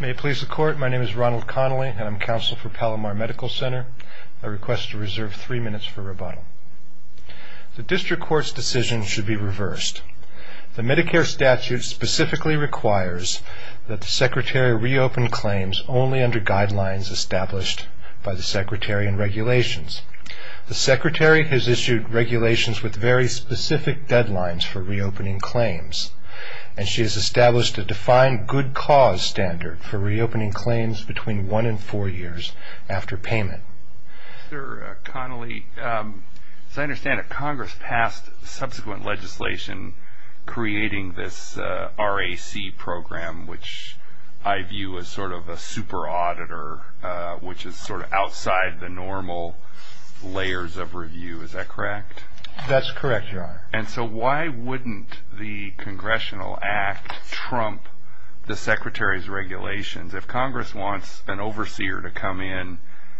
May it please the Court, my name is Ronald Connolly and I'm counsel for Palomar Medical Center. I request to reserve three minutes for rebuttal. The District Court's decision should be reversed. The Medicare statute specifically requires that the Secretary reopen claims only under guidelines established by the Secretary and regulations. The Secretary has issued regulations with very specific deadlines for reopening claims and she has established a defined good cause standard for reopening claims between one and four years after payment. Mr. Connolly, as I understand it, Congress passed subsequent legislation creating this RAC program which I view as sort of a super auditor which is sort of outside the normal layers of review, is that correct? That's correct, Your Honor. And so why wouldn't the Congressional Act trump the Secretary's regulations? If Congress wants an overseer to come in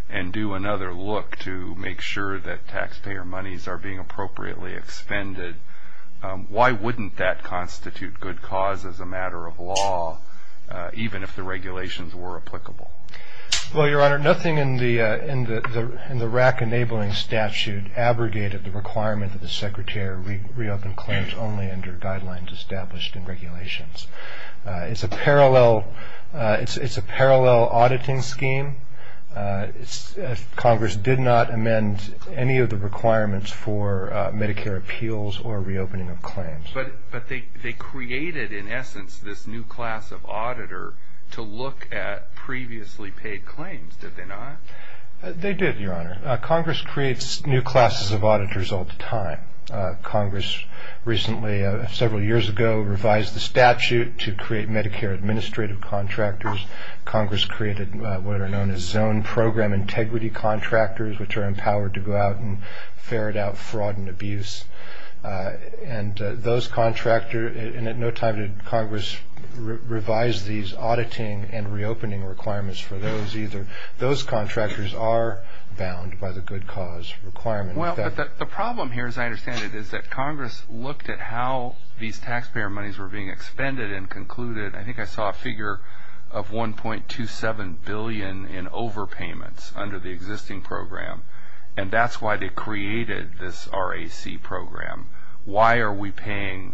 and do another look to make sure that taxpayer monies are being appropriately expended, why wouldn't that constitute good cause as a matter of law even if the regulations were applicable? Well, Your Honor, nothing in the RAC enabling statute abrogated the requirement that the Secretary reopen claims only under guidelines established in regulations. It's a parallel auditing scheme. Congress did not amend any of the requirements for Medicare appeals or reopening of claims. But they created, in essence, this new class of auditor to look at previously paid claims, did they not? They did, Your Honor. Congress creates new classes of auditors all the time. Congress recently, several years ago, revised the statute to create Medicare administrative contractors. Congress created what are known as zone program integrity contractors which are empowered to go out and ferret out fraud and abuse. And those contractors, and at no time did Congress revise these auditing and reopening requirements for those either. Those contractors are bound by the good cause requirement. Well, but the problem here, as I understand it, is that Congress looked at how these taxpayer monies were being expended and concluded, I think I saw a figure of $1.27 billion in overpayments under the existing program. And that's why they created this RAC program. Why are we paying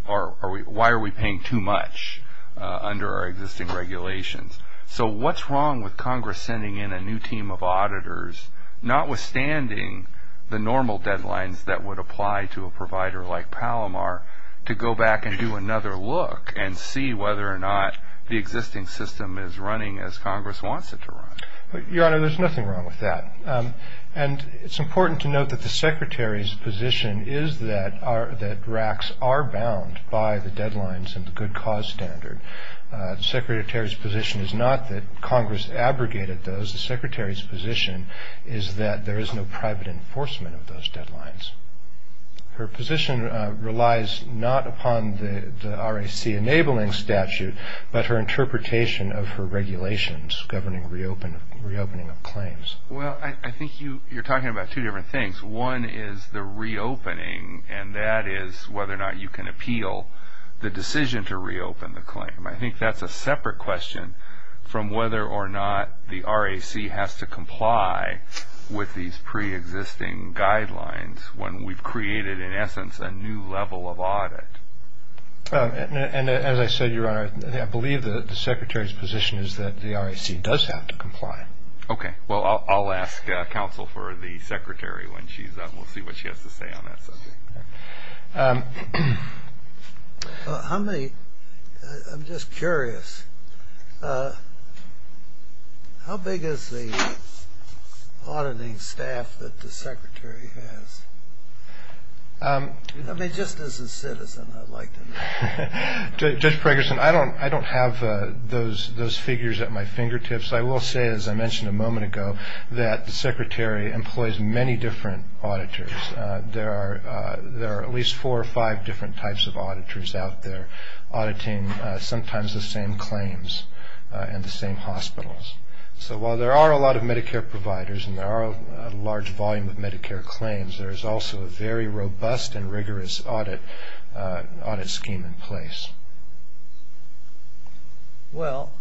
too much under our existing regulations? So what's wrong with Congress sending in a new team of auditors, notwithstanding the normal deadlines that would apply to a provider like Palomar, to go back and do another look and see whether or not the existing system is running as Congress wants it to run? The Secretary's position is not that Congress abrogated those. The Secretary's position is that there is no private enforcement of those deadlines. Her position relies not upon the RAC enabling statute, but her interpretation of her regulations governing reopening of claims. Well, I think you're talking about two different things. One is the reopening, and that is whether or not you can appeal the decision to reopen the claim. I think that's a separate question from whether or not the RAC has to comply with these pre-existing guidelines when we've created, in essence, a new level of audit. And as I said, Your Honor, I believe that the Secretary's position is that the RAC does have to comply. Okay. Well, I'll ask counsel for the Secretary when she's up. We'll see what she has to say on that subject. I'm just curious. How big is the auditing staff that the Secretary has? I mean, just as a citizen, I'd like to know. Judge Pregerson, I don't have those figures at my fingertips. I will say, as I mentioned a moment ago, that the Secretary employs many different auditors. There are at least four or five different types of auditors out there auditing sometimes the same claims in the same hospitals. So while there are a lot of Medicare providers and there are a large volume of Medicare claims, there is also a very robust and rigorous audit scheme in place. Well,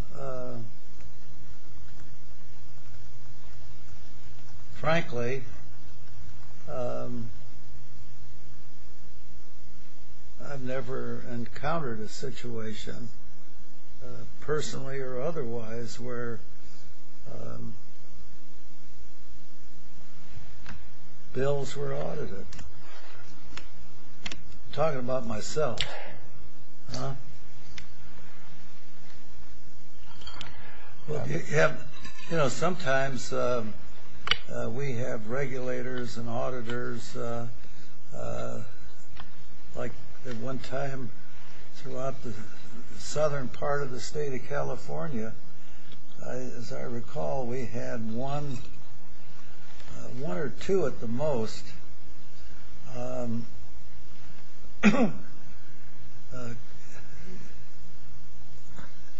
frankly, I've never encountered a situation, personally or otherwise, where bills were audited. I'm talking about myself. Sometimes we have regulators and auditors, like at one time throughout the southern part of the state of California, as I recall, we had one or two at the most.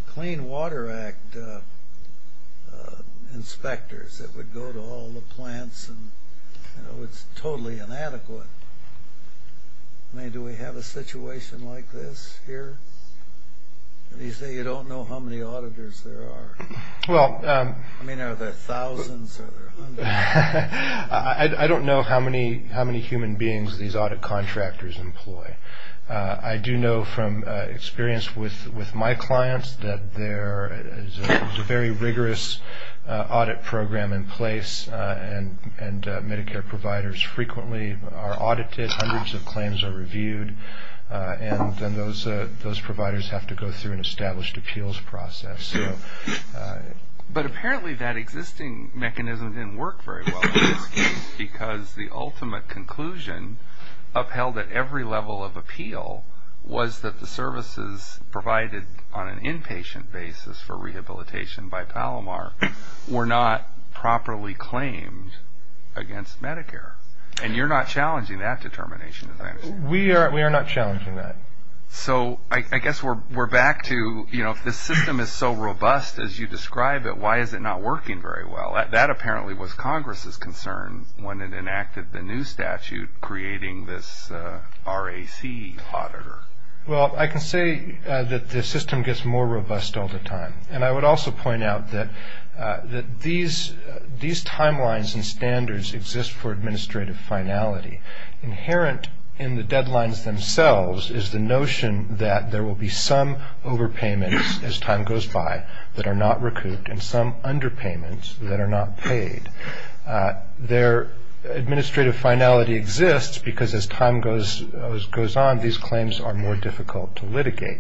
Clean Water Act inspectors that would go to all the plants and, you know, it's totally inadequate. I mean, do we have a situation like this here? These days you don't know how many auditors there are. I don't know how many human beings these audit contractors employ. I do know from experience with my clients that there is a very rigorous audit program in place and Medicare providers frequently are audited, hundreds of claims are reviewed, and those providers have to go through an established appeals process. But apparently that existing mechanism didn't work very well in this case because the ultimate conclusion upheld at every level of appeal was that the services provided on an inpatient basis for rehabilitation by Palomar were not properly claimed against Medicare. And you're not challenging that determination, is that it? We are not challenging that. So I guess we're back to, you know, if the system is so robust as you describe it, why is it not working very well? That apparently was Congress's concern when it enacted the new statute creating this RAC auditor. Well, I can say that the system gets more robust all the time. And I would also point out that these timelines and standards exist for administrative finality. Inherent in the deadlines themselves is the notion that there will be some overpayments as time goes by that are not recouped and some underpayments that are not paid. Their administrative finality exists because as time goes on, these claims are more difficult to litigate.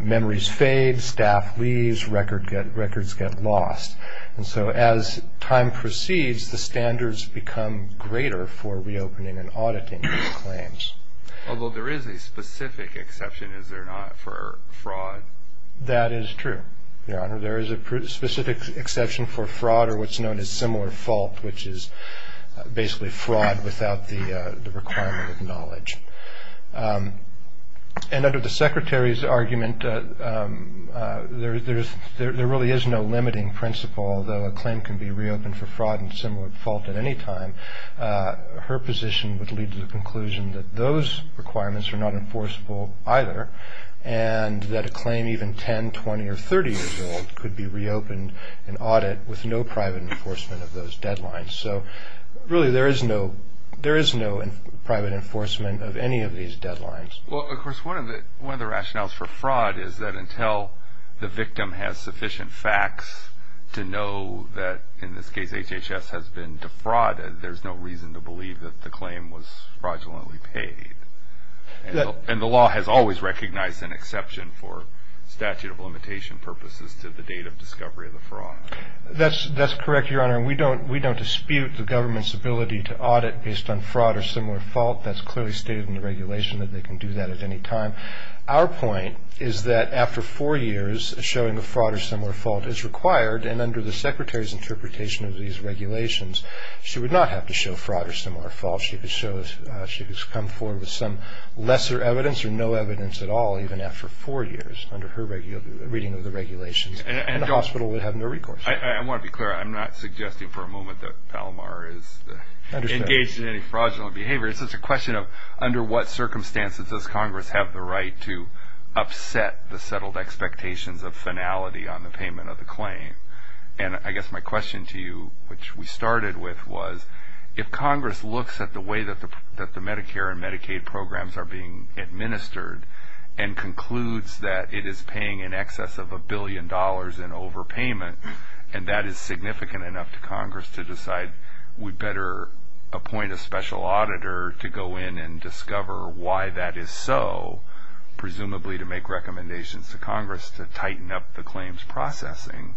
Memories fade, staff leaves, records get lost. And so as time proceeds, the standards become greater for reopening and auditing these claims. Although there is a specific exception, is there not, for fraud? That is true, Your Honor. There is a specific exception for fraud or what's known as similar fault, which is basically fraud without the requirement of knowledge. And under the Secretary's argument, there really is no limiting principle, although a claim can be reopened for fraud and similar fault at any time. Her position would lead to the conclusion that those requirements are not enforceable either and that a claim even 10, 20 or 30 years old could be reopened in audit with no private enforcement of those deadlines. So really, there is no private enforcement of any of these deadlines. Well, of course, one of the rationales for fraud is that until the victim has sufficient facts to know that, in this case, HHS has been defrauded, there's no reason to believe that the claim was fraudulently paid. And the law has always recognized an exception for statute of limitation purposes to the date of discovery of the fraud. That's correct, Your Honor, and we don't dispute the government's ability to audit based on fraud or similar fault. That's clearly stated in the regulation that they can do that at any time. Our point is that after four years, showing a fraud or similar fault is required, and under the Secretary's interpretation of these regulations, she would not have to show fraud or similar fault. She could come forward with some lesser evidence or no evidence at all even after four years under her reading of the regulations, and the hospital would have no recourse. I want to be clear. I'm not suggesting for a moment that Palomar is engaged in any fraudulent behavior. It's just a question of under what circumstances does Congress have the right to upset the settled expectations of finality on the payment of the claim. And I guess my question to you, which we started with, was if Congress looks at the way that the Medicare and Medicaid programs are being administered and concludes that it is paying in excess of a billion dollars in overpayment, and that is significant enough to Congress to decide we'd better appoint a special auditor to go in and discover why that is so, presumably to make recommendations to Congress to tighten up the claims processing,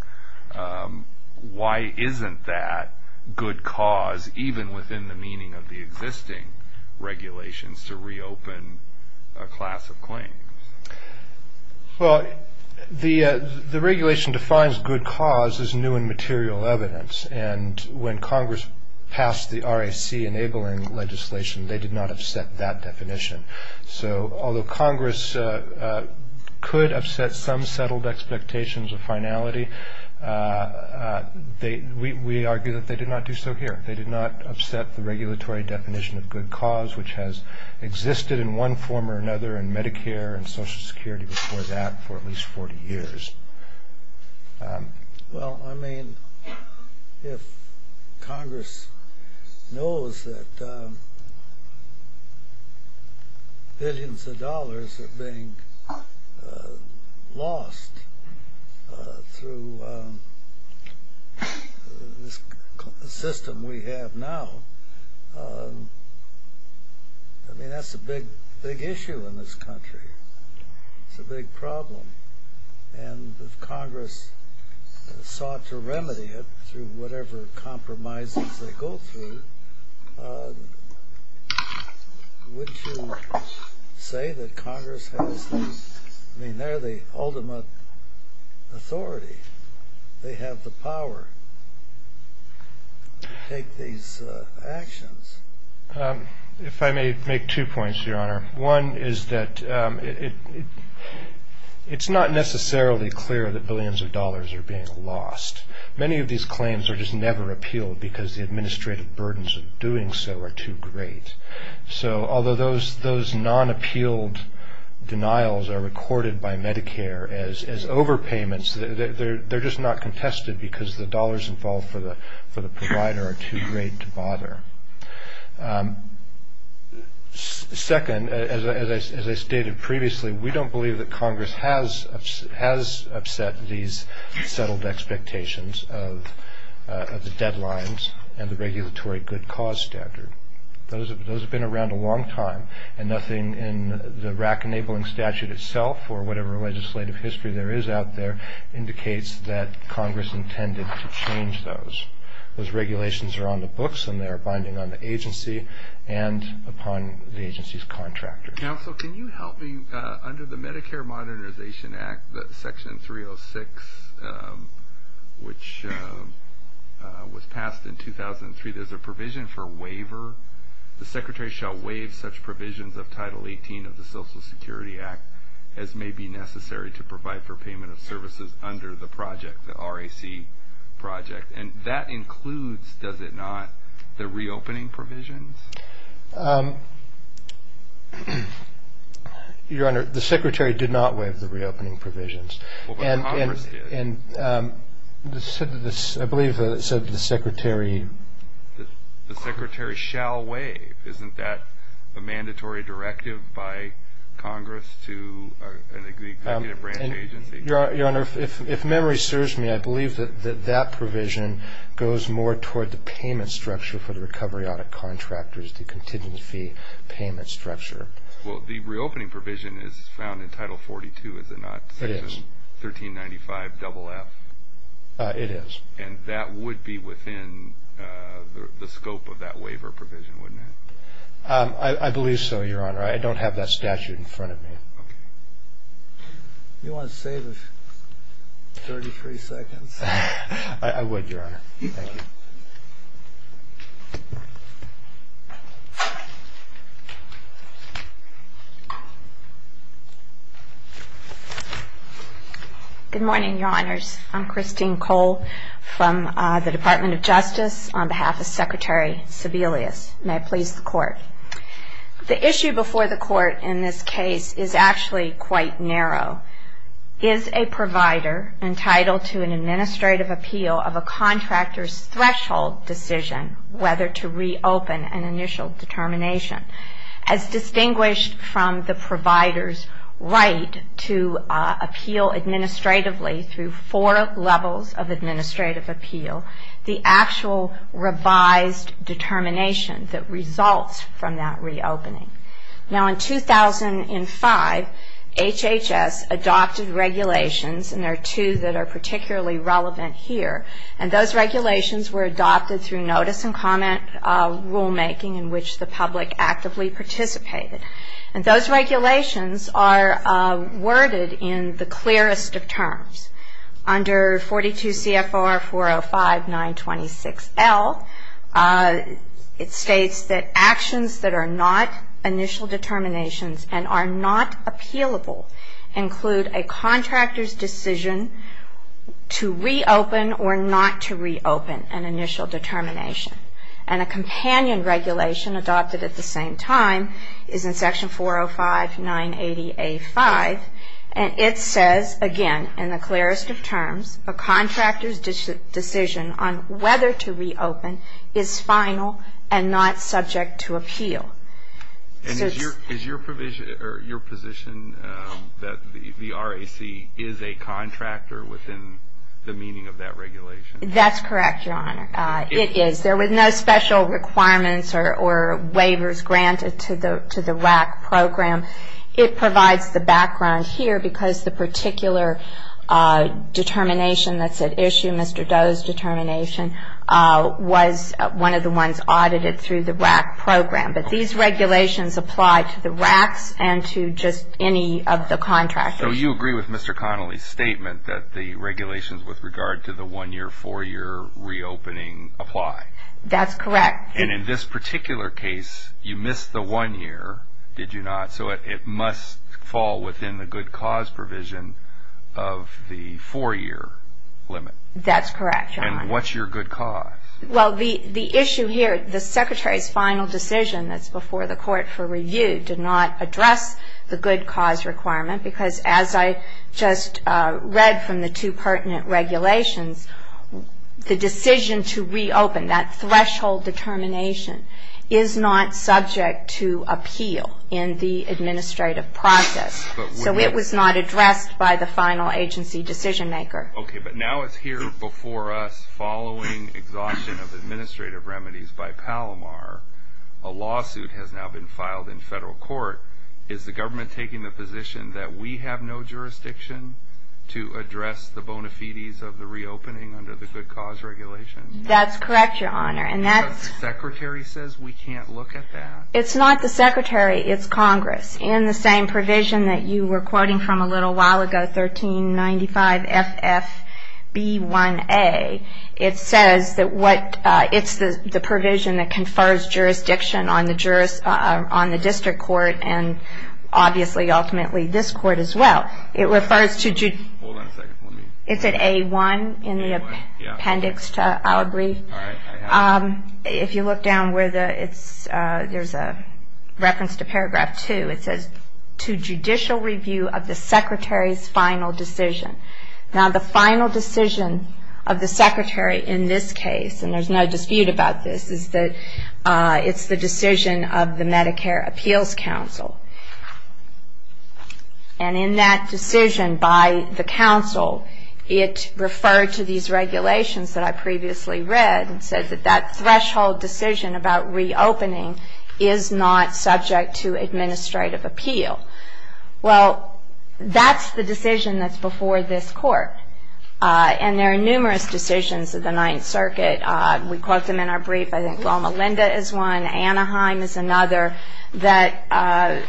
why isn't that good cause even within the meaning of the existing regulations to reopen a class of claims? Well, the regulation defines good cause as new and material evidence, and when Congress passed the RAC-enabling legislation, they did not have set that definition. So although Congress could upset some settled expectations of finality, we argue that they did not do so here. They did not upset the regulatory definition of good cause, which has existed in one form or another in Medicare and Social Security before that for at least 40 years. Well, I mean, if Congress knows that billions of dollars are being lost through the system we have now, I mean, that's a big issue in this country. It's a big problem, and if Congress sought to remedy it through whatever compromises they go through, would you say that Congress has the, I mean, they're the ultimate authority. They have the power to take these actions. If I may make two points, Your Honor. One is that it's not necessarily clear that billions of dollars are being lost. Many of these claims are just never appealed because the administrative burdens of doing so are too great. So although those non-appealed denials are recorded by Medicare as overpayments, they're just not contested because the dollars involved for the provider are too great to bother. Second, as I stated previously, we don't believe that Congress has upset these settled expectations of the deadlines and the regulatory good cause standard. Those have been around a long time, and nothing in the RAC-enabling statute itself or whatever legislative history there is out there indicates that Congress intended to change those. Those regulations are on the books, and they are binding on the agency and upon the agency's contractors. Counsel, can you help me? Under the Medicare Modernization Act, Section 306, which was passed in 2003, there's a provision for a waiver. The Secretary shall waive such provisions of Title 18 of the Social Security Act as may be necessary to provide for payment of services under the project, the RAC project. And that includes, does it not, the reopening provisions? Your Honor, the Secretary did not waive the reopening provisions. Well, but Congress did. And I believe it said that the Secretary... The Secretary shall waive. Isn't that a mandatory directive by Congress to an executive branch agency? Your Honor, if memory serves me, I believe that that provision goes more toward the payment structure for the recovery audit contractors, the contingency payment structure. Well, the reopening provision is found in Title 42, is it not? It is. 1395-FF. It is. And that would be within the scope of that waiver provision, wouldn't it? I believe so, Your Honor. I don't have that statute in front of me. Okay. You want to save us 33 seconds? I would, Your Honor. Thank you. Good morning, Your Honors. I'm Christine Cole from the Department of Justice on behalf of Secretary Sebelius. May it please the Court. The issue before the Court in this case is actually quite narrow. Is a provider entitled to an administrative appeal of a contractor's threshold decision whether to reopen an initial determination? As distinguished from the provider's right to appeal administratively through four levels of administrative appeal, the actual revised determination that results from that reopening. Now, in 2005, HHS adopted regulations, and there are two that are particularly relevant here, and those regulations were adopted through notice and comment rulemaking in which the public actively participated. And those regulations are worded in the clearest of terms. Under 42 CFR 405-926L, it states that actions that are not initial determinations and are not appealable include a contractor's decision to reopen or not to reopen an initial determination. And a companion regulation adopted at the same time is in Section 405-980A5, and it says, again, in the clearest of terms, a contractor's decision on whether to reopen is final and not subject to appeal. And is your position that the RAC is a contractor within the meaning of that regulation? That's correct, Your Honor. It is. There were no special requirements or waivers granted to the RAC program. It provides the background here because the particular determination that's at issue, Mr. Doe's determination, was one of the ones audited through the RAC program. But these regulations apply to the RACs and to just any of the contractors. So you agree with Mr. Connolly's statement that the regulations with regard to the one-year, four-year reopening apply? That's correct. And in this particular case, you missed the one year, did you not? So it must fall within the good cause provision of the four-year limit? That's correct, Your Honor. And what's your good cause? Well, the issue here, the Secretary's final decision that's before the court for review, did not address the good cause requirement because, as I just read from the two pertinent regulations, the decision to reopen, that threshold determination, is not subject to appeal in the administrative process. So it was not addressed by the final agency decision maker. Okay, but now it's here before us following exhaustion of administrative remedies by Palomar. A lawsuit has now been filed in federal court. Is the government taking the position that we have no jurisdiction to address the bona fides of the reopening under the good cause regulation? That's correct, Your Honor. And that's the Secretary says we can't look at that? It's not the Secretary, it's Congress. In the same provision that you were quoting from a little while ago, 1395FFB1A, it says that it's the provision that confers jurisdiction on the district court and obviously ultimately this court as well. Hold on a second for me. It's at A1 in the appendix to our brief. All right, I have it. If you look down, there's a reference to paragraph 2. It says, to judicial review of the Secretary's final decision. Now, the final decision of the Secretary in this case, and there's no dispute about this, is that it's the decision of the Medicare Appeals Council. And in that decision by the council, it referred to these regulations that I previously read and said that that threshold decision about reopening is not subject to administrative appeal. Well, that's the decision that's before this court. And there are numerous decisions of the Ninth Circuit, we quote them in our brief, I think Loma Linda is one, Anaheim is another, that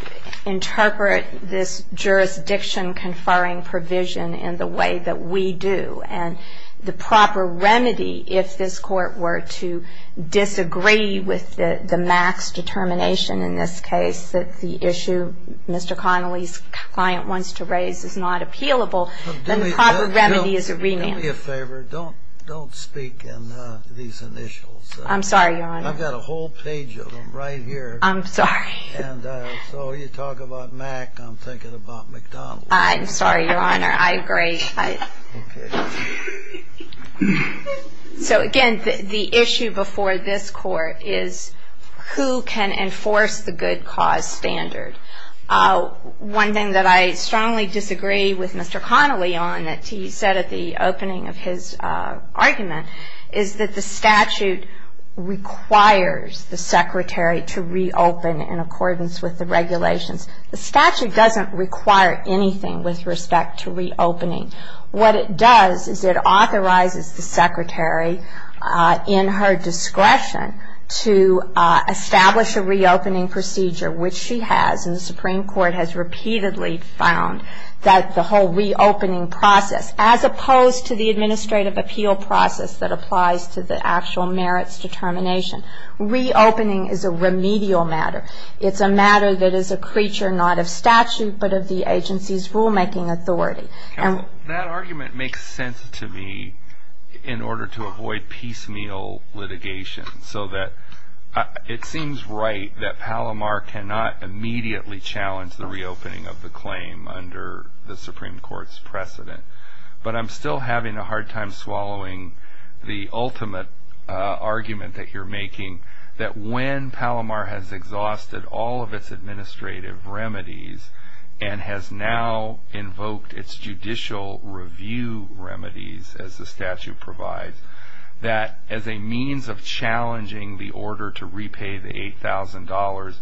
interpret this jurisdiction conferring provision in the way that we do. And the proper remedy, if this court were to disagree with the max determination in this case, that the issue Mr. Connolly's client wants to raise is not appealable, then the proper remedy is a remand. Do me a favor. Don't speak in these initials. I'm sorry, Your Honor. I've got a whole page of them right here. I'm sorry. And so you talk about MAC, I'm thinking about McDonald's. I'm sorry, Your Honor. I agree. So, again, the issue before this court is who can enforce the good cause standard. One thing that I strongly disagree with Mr. Connolly on that he said at the opening of his argument is that the statute requires the secretary to reopen in accordance with the regulations. The statute doesn't require anything with respect to reopening. What it does is it authorizes the secretary in her discretion to establish a reopening procedure, which she has and the Supreme Court has repeatedly found that the whole reopening process, as opposed to the administrative appeal process that applies to the actual merits determination, reopening is a remedial matter. It's a matter that is a creature not of statute but of the agency's rulemaking authority. Counsel, that argument makes sense to me in order to avoid piecemeal litigation so that it seems right that Palomar cannot immediately challenge the reopening of the claim under the Supreme Court's precedent. But I'm still having a hard time swallowing the ultimate argument that you're making, that when Palomar has exhausted all of its administrative remedies and has now invoked its judicial review remedies, as the statute provides, that as a means of challenging the order to repay the $8,000,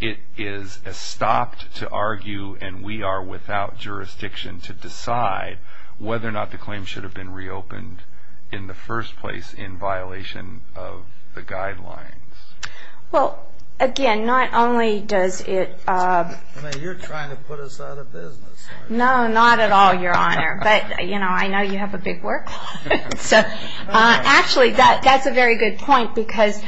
it is stopped to argue, and we are without jurisdiction to decide whether or not the claim should have been reopened in the first place in violation of the guidelines. Well, again, not only does it... You're trying to put us out of business. No, not at all, Your Honor. But, you know, I know you have a big workload. Actually, that's a very good point because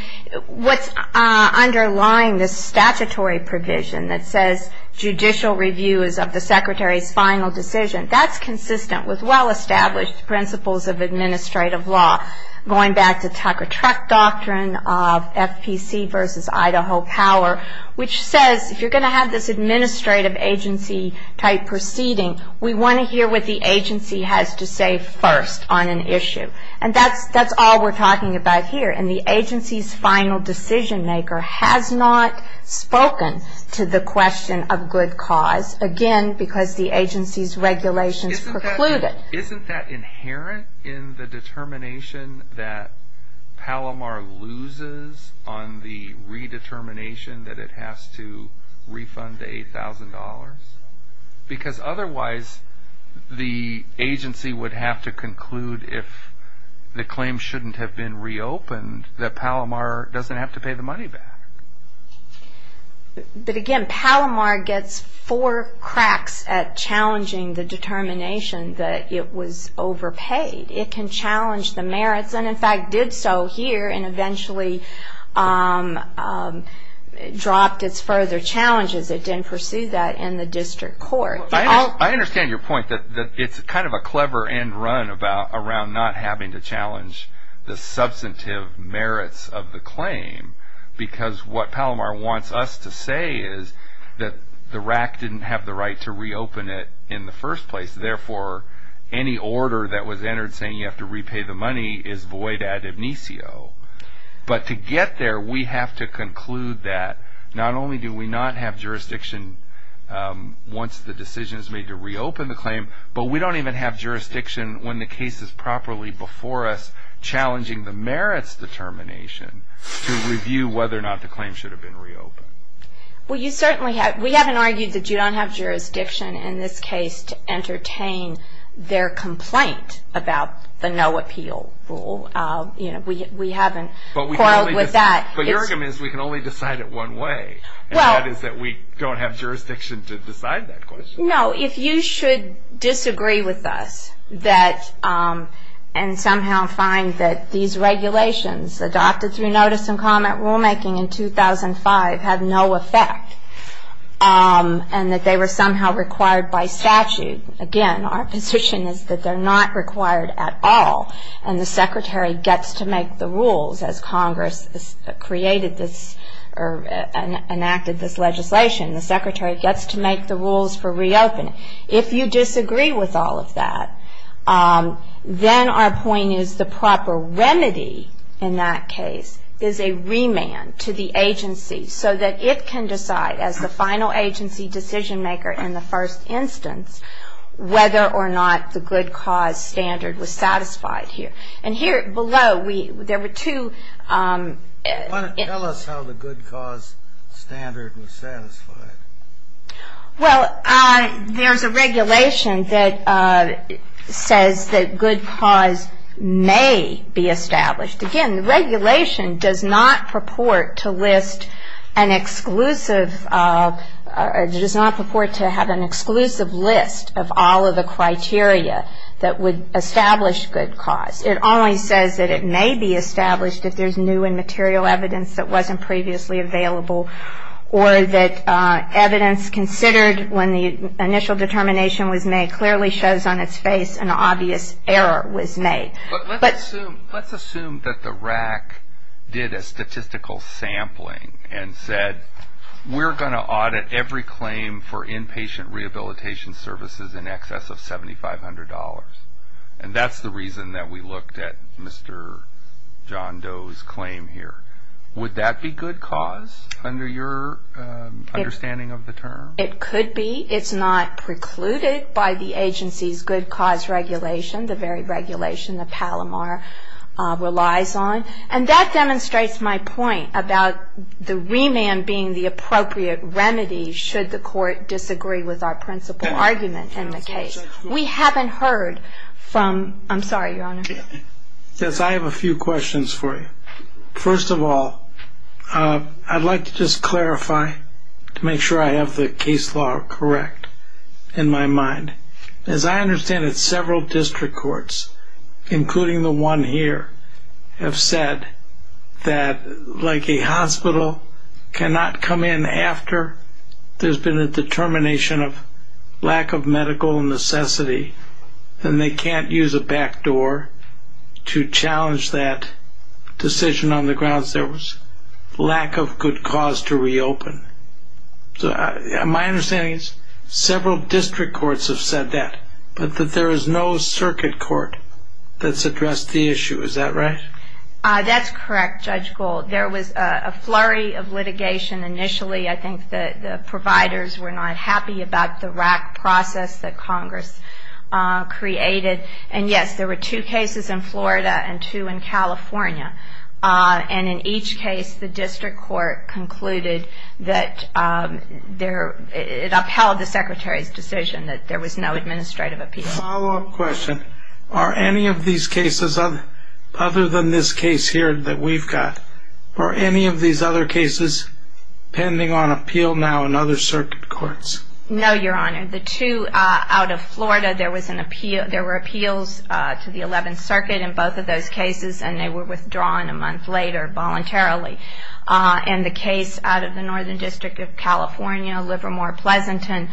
what's underlying this statutory provision that says judicial review is of the secretary's final decision, that's consistent with well-established principles of administrative law, going back to Tucker-Truck doctrine of FPC versus Idaho power, which says if you're going to have this administrative agency-type proceeding, we want to hear what the agency has to say first on an issue. And that's all we're talking about here. And the agency's final decision-maker has not spoken to the question of good cause, again, because the agency's regulations preclude it. Isn't that inherent in the determination that Palomar loses on the redetermination that it has to refund the $8,000? Because otherwise the agency would have to conclude if the claim shouldn't have been reopened that Palomar doesn't have to pay the money back. But, again, Palomar gets four cracks at challenging the determination that it was overpaid. It can challenge the merits and, in fact, did so here and eventually dropped its further challenges. It didn't pursue that in the district court. I understand your point that it's kind of a clever end run around not having to challenge the substantive merits of the claim because what Palomar wants us to say is that the RAC didn't have the right to reopen it in the first place. Therefore, any order that was entered saying you have to repay the money is void ad amnesio. But to get there, we have to conclude that not only do we not have jurisdiction once the decision is made to reopen the claim, but we don't even have jurisdiction when the case is properly before us to review whether or not the claim should have been reopened. We haven't argued that you don't have jurisdiction in this case to entertain their complaint about the no appeal rule. We haven't quarreled with that. But your argument is we can only decide it one way, and that is that we don't have jurisdiction to decide that question. No, if you should disagree with us and somehow find that these regulations adopted through notice and comment rulemaking in 2005 had no effect and that they were somehow required by statute, again, our position is that they're not required at all, and the Secretary gets to make the rules as Congress created this or enacted this legislation. The Secretary gets to make the rules for reopening. If you disagree with all of that, then our point is the proper remedy in that case is a remand to the agency so that it can decide as the final agency decision maker in the first instance whether or not the good cause standard was satisfied here. And here below, there were two ‑‑ Well, there's a regulation that says that good cause may be established. Again, the regulation does not purport to list an exclusive ‑‑ does not purport to have an exclusive list of all of the criteria that would establish good cause. It only says that it may be established if there's new and material evidence that wasn't previously available or that evidence considered when the initial determination was made clearly shows on its face an obvious error was made. But let's assume that the RAC did a statistical sampling and said, we're going to audit every claim for inpatient rehabilitation services in excess of $7,500. And that's the reason that we looked at Mr. John Doe's claim here. Would that be good cause under your understanding of the term? It could be. It's not precluded by the agency's good cause regulation, the very regulation that Palomar relies on. And that demonstrates my point about the remand being the appropriate remedy should the court disagree with our principal argument in the case. We haven't heard from ‑‑ I'm sorry, Your Honor. Yes, I have a few questions for you. First of all, I'd like to just clarify to make sure I have the case law correct in my mind. As I understand it, several district courts, including the one here, have said that like a hospital cannot come in after there's been a determination of lack of medical necessity and they can't use a back door to challenge that decision on the grounds there was lack of good cause to reopen. My understanding is several district courts have said that, but that there is no circuit court that's addressed the issue. Is that right? That's correct, Judge Gold. There was a flurry of litigation initially. I think the providers were not happy about the rack process that Congress created. And, yes, there were two cases in Florida and two in California. And in each case, the district court concluded that it upheld the Secretary's decision that there was no administrative appeal. Follow-up question. Are any of these cases, other than this case here that we've got, are any of these other cases pending on appeal now in other circuit courts? No, Your Honor. The two out of Florida, there were appeals to the 11th Circuit in both of those cases, and they were withdrawn a month later voluntarily. And the case out of the Northern District of California, Livermore-Pleasanton,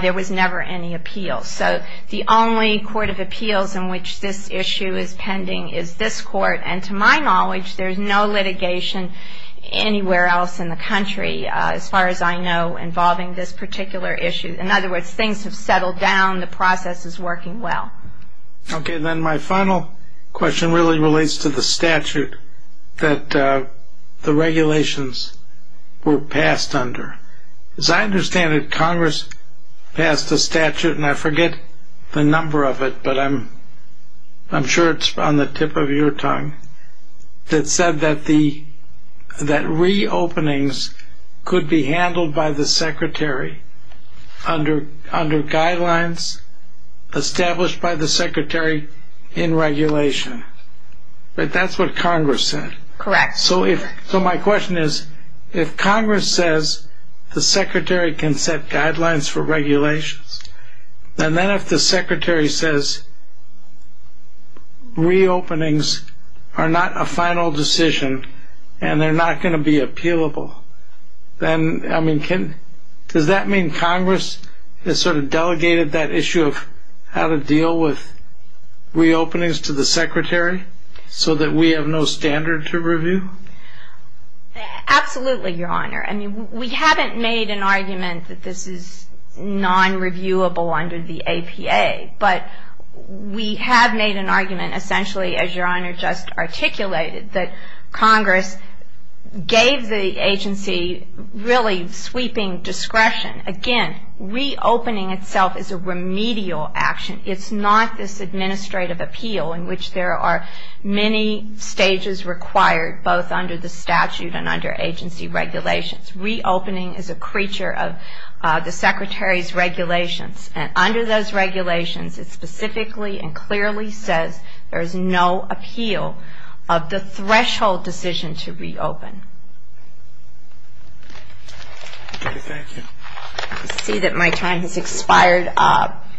there was never any appeal. So the only court of appeals in which this issue is pending is this court. And to my knowledge, there's no litigation anywhere else in the country, as far as I know, involving this particular issue. In other words, things have settled down. The process is working well. Okay. Then my final question really relates to the statute that the regulations were passed under. As I understand it, Congress passed a statute, and I forget the number of it, but I'm sure it's on the tip of your tongue, that said that reopenings could be handled by the Secretary under guidelines established by the Secretary in regulation. But that's what Congress said. Correct. So my question is, if Congress says the Secretary can set guidelines for regulations, and then if the Secretary says reopenings are not a final decision and they're not going to be appealable, does that mean Congress has sort of delegated that issue of how to deal with reopenings to the Secretary so that we have no standard to review? Absolutely, Your Honor. I mean, we haven't made an argument that this is non-reviewable under the APA, but we have made an argument essentially, as Your Honor just articulated, that Congress gave the agency really sweeping discretion. Again, reopening itself is a remedial action. It's not this administrative appeal in which there are many stages required, both under the statute and under agency regulations. Reopening is a creature of the Secretary's regulations, and under those regulations it specifically and clearly says there is no appeal of the threshold decision to reopen. Thank you. I see that my time has expired.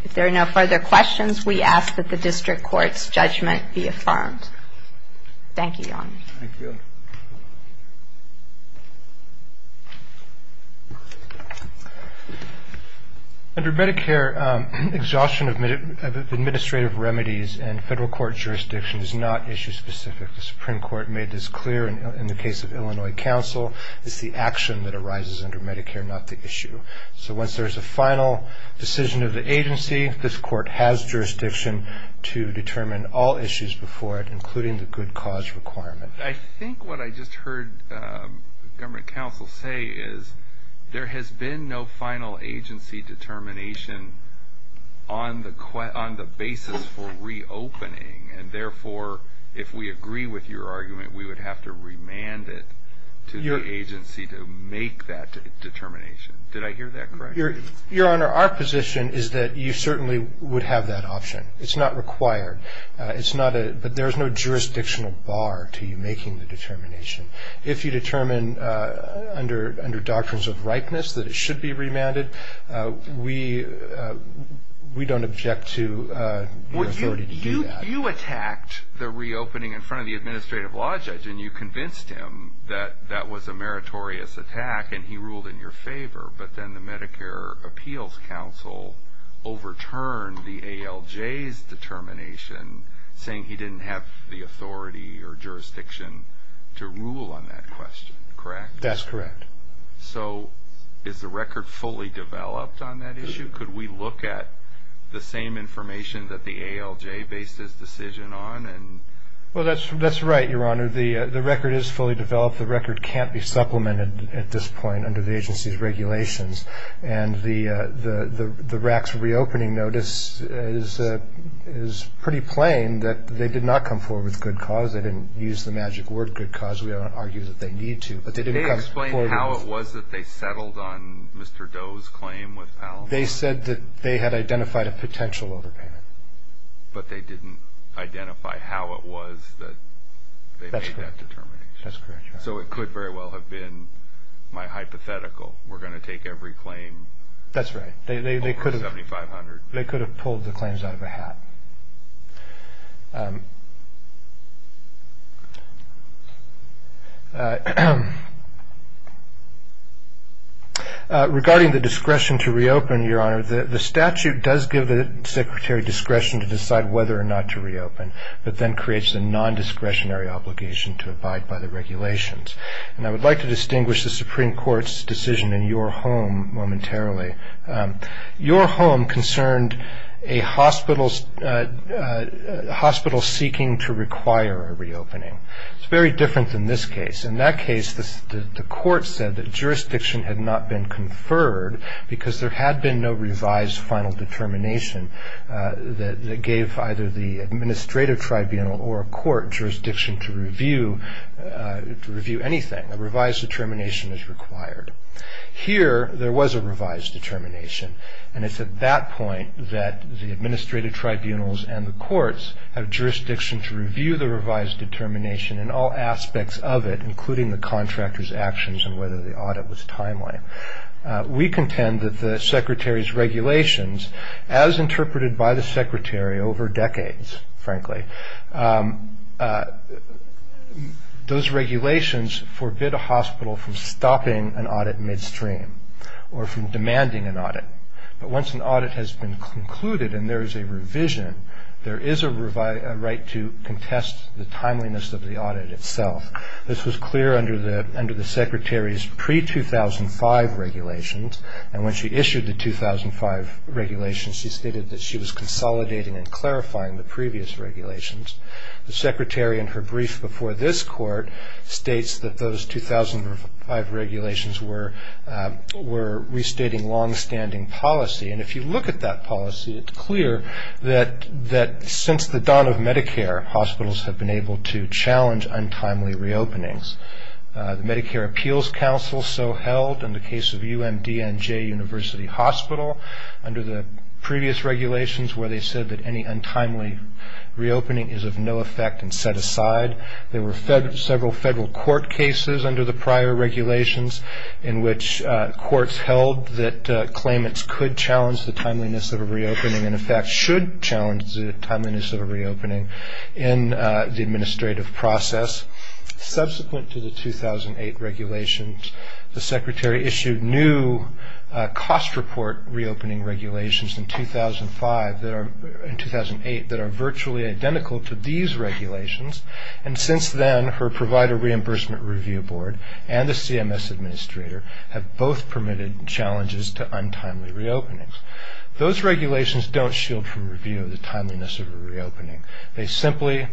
If there are no further questions, we ask that the district court's judgment be affirmed. Thank you, Your Honor. Thank you. Under Medicare, exhaustion of administrative remedies and federal court jurisdiction is not issue specific. The Supreme Court made this clear in the case of Illinois Council. It's the action that arises under Medicare, not the issue. So once there's a final decision of the agency, this court has jurisdiction to determine all issues before it, including the good cause requirement. I think what I just heard the government counsel say is there has been no final agency determination on the basis for reopening, and therefore if we agree with your argument, we would have to remand it to the agency to make that determination. Did I hear that correctly? Your Honor, our position is that you certainly would have that option. It's not required, but there's no jurisdictional bar to you making the determination. If you determine under doctrines of ripeness that it should be remanded, we don't object to your authority to do that. You attacked the reopening in front of the administrative law judge, and you convinced him that that was a meritorious attack and he ruled in your favor, but then the Medicare Appeals Council overturned the ALJ's determination, saying he didn't have the authority or jurisdiction to rule on that question, correct? That's correct. So is the record fully developed on that issue? Could we look at the same information that the ALJ based his decision on? Well, that's right, Your Honor. The record is fully developed. The record can't be supplemented at this point under the agency's regulations, and the RAC's reopening notice is pretty plain that they did not come forward with good cause. They didn't use the magic word good cause. We don't argue that they need to, but they didn't come forward with it. Did they explain how it was that they settled on Mr. Doe's claim with Palin? They said that they had identified a potential overpayment. But they didn't identify how it was that they made that determination. That's correct. So it could very well have been my hypothetical. We're going to take every claim over $7,500. That's right. They could have pulled the claims out of a hat. Regarding the discretion to reopen, Your Honor, the statute does give the secretary discretion to decide whether or not to reopen, but then creates a nondiscretionary obligation to abide by the regulations. And I would like to distinguish the Supreme Court's decision in your home momentarily. Your home concerned a hospital seeking to require a reopening. It's very different than this case. In that case, the court said that jurisdiction had not been conferred because there had been no revised final determination that gave either the administrative tribunal or court jurisdiction to review anything. A revised determination is required. Here, there was a revised determination, and it's at that point that the administrative tribunals and the courts have jurisdiction to review the revised determination and all aspects of it, including the contractor's actions and whether the audit was timeline. We contend that the secretary's regulations, as interpreted by the secretary over decades, frankly, those regulations forbid a hospital from stopping an audit midstream or from demanding an audit. But once an audit has been concluded and there is a revision, there is a right to contest the timeliness of the audit itself. This was clear under the secretary's pre-2005 regulations. And when she issued the 2005 regulations, she stated that she was consolidating and clarifying the previous regulations. The secretary, in her brief before this court, states that those 2005 regulations were restating longstanding policy. And if you look at that policy, it's clear that since the dawn of Medicare, hospitals have been able to challenge untimely reopenings. The Medicare Appeals Council so held in the case of UMDNJ University Hospital, under the previous regulations where they said that any untimely reopening is of no effect and set aside. There were several federal court cases under the prior regulations in which courts held that claimants could challenge the timeliness of a reopening and in fact should challenge the timeliness of a reopening in the administrative process. Subsequent to the 2008 regulations, the secretary issued new cost report reopening regulations in 2005 and 2008 that are virtually identical to these regulations. And since then, her provider reimbursement review board and the CMS administrator have both permitted challenges to untimely reopenings. Those regulations don't shield from review of the timeliness of a reopening. They simply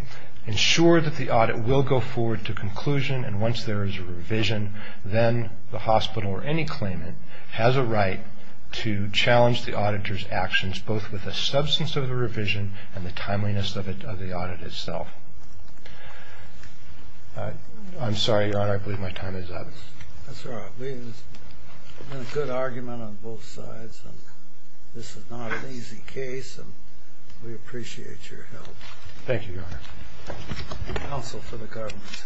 ensure that the audit will go forward to conclusion and once there is a revision, then the hospital or any claimant has a right to challenge the auditor's actions both with the substance of the revision and the timeliness of the audit itself. I'm sorry, Your Honor, I believe my time is up. I'm sorry, I believe there's been a good argument on both sides and this is not an easy case and we appreciate your help. Thank you, Your Honor. And also for the government's help as well. Alan, Ashley.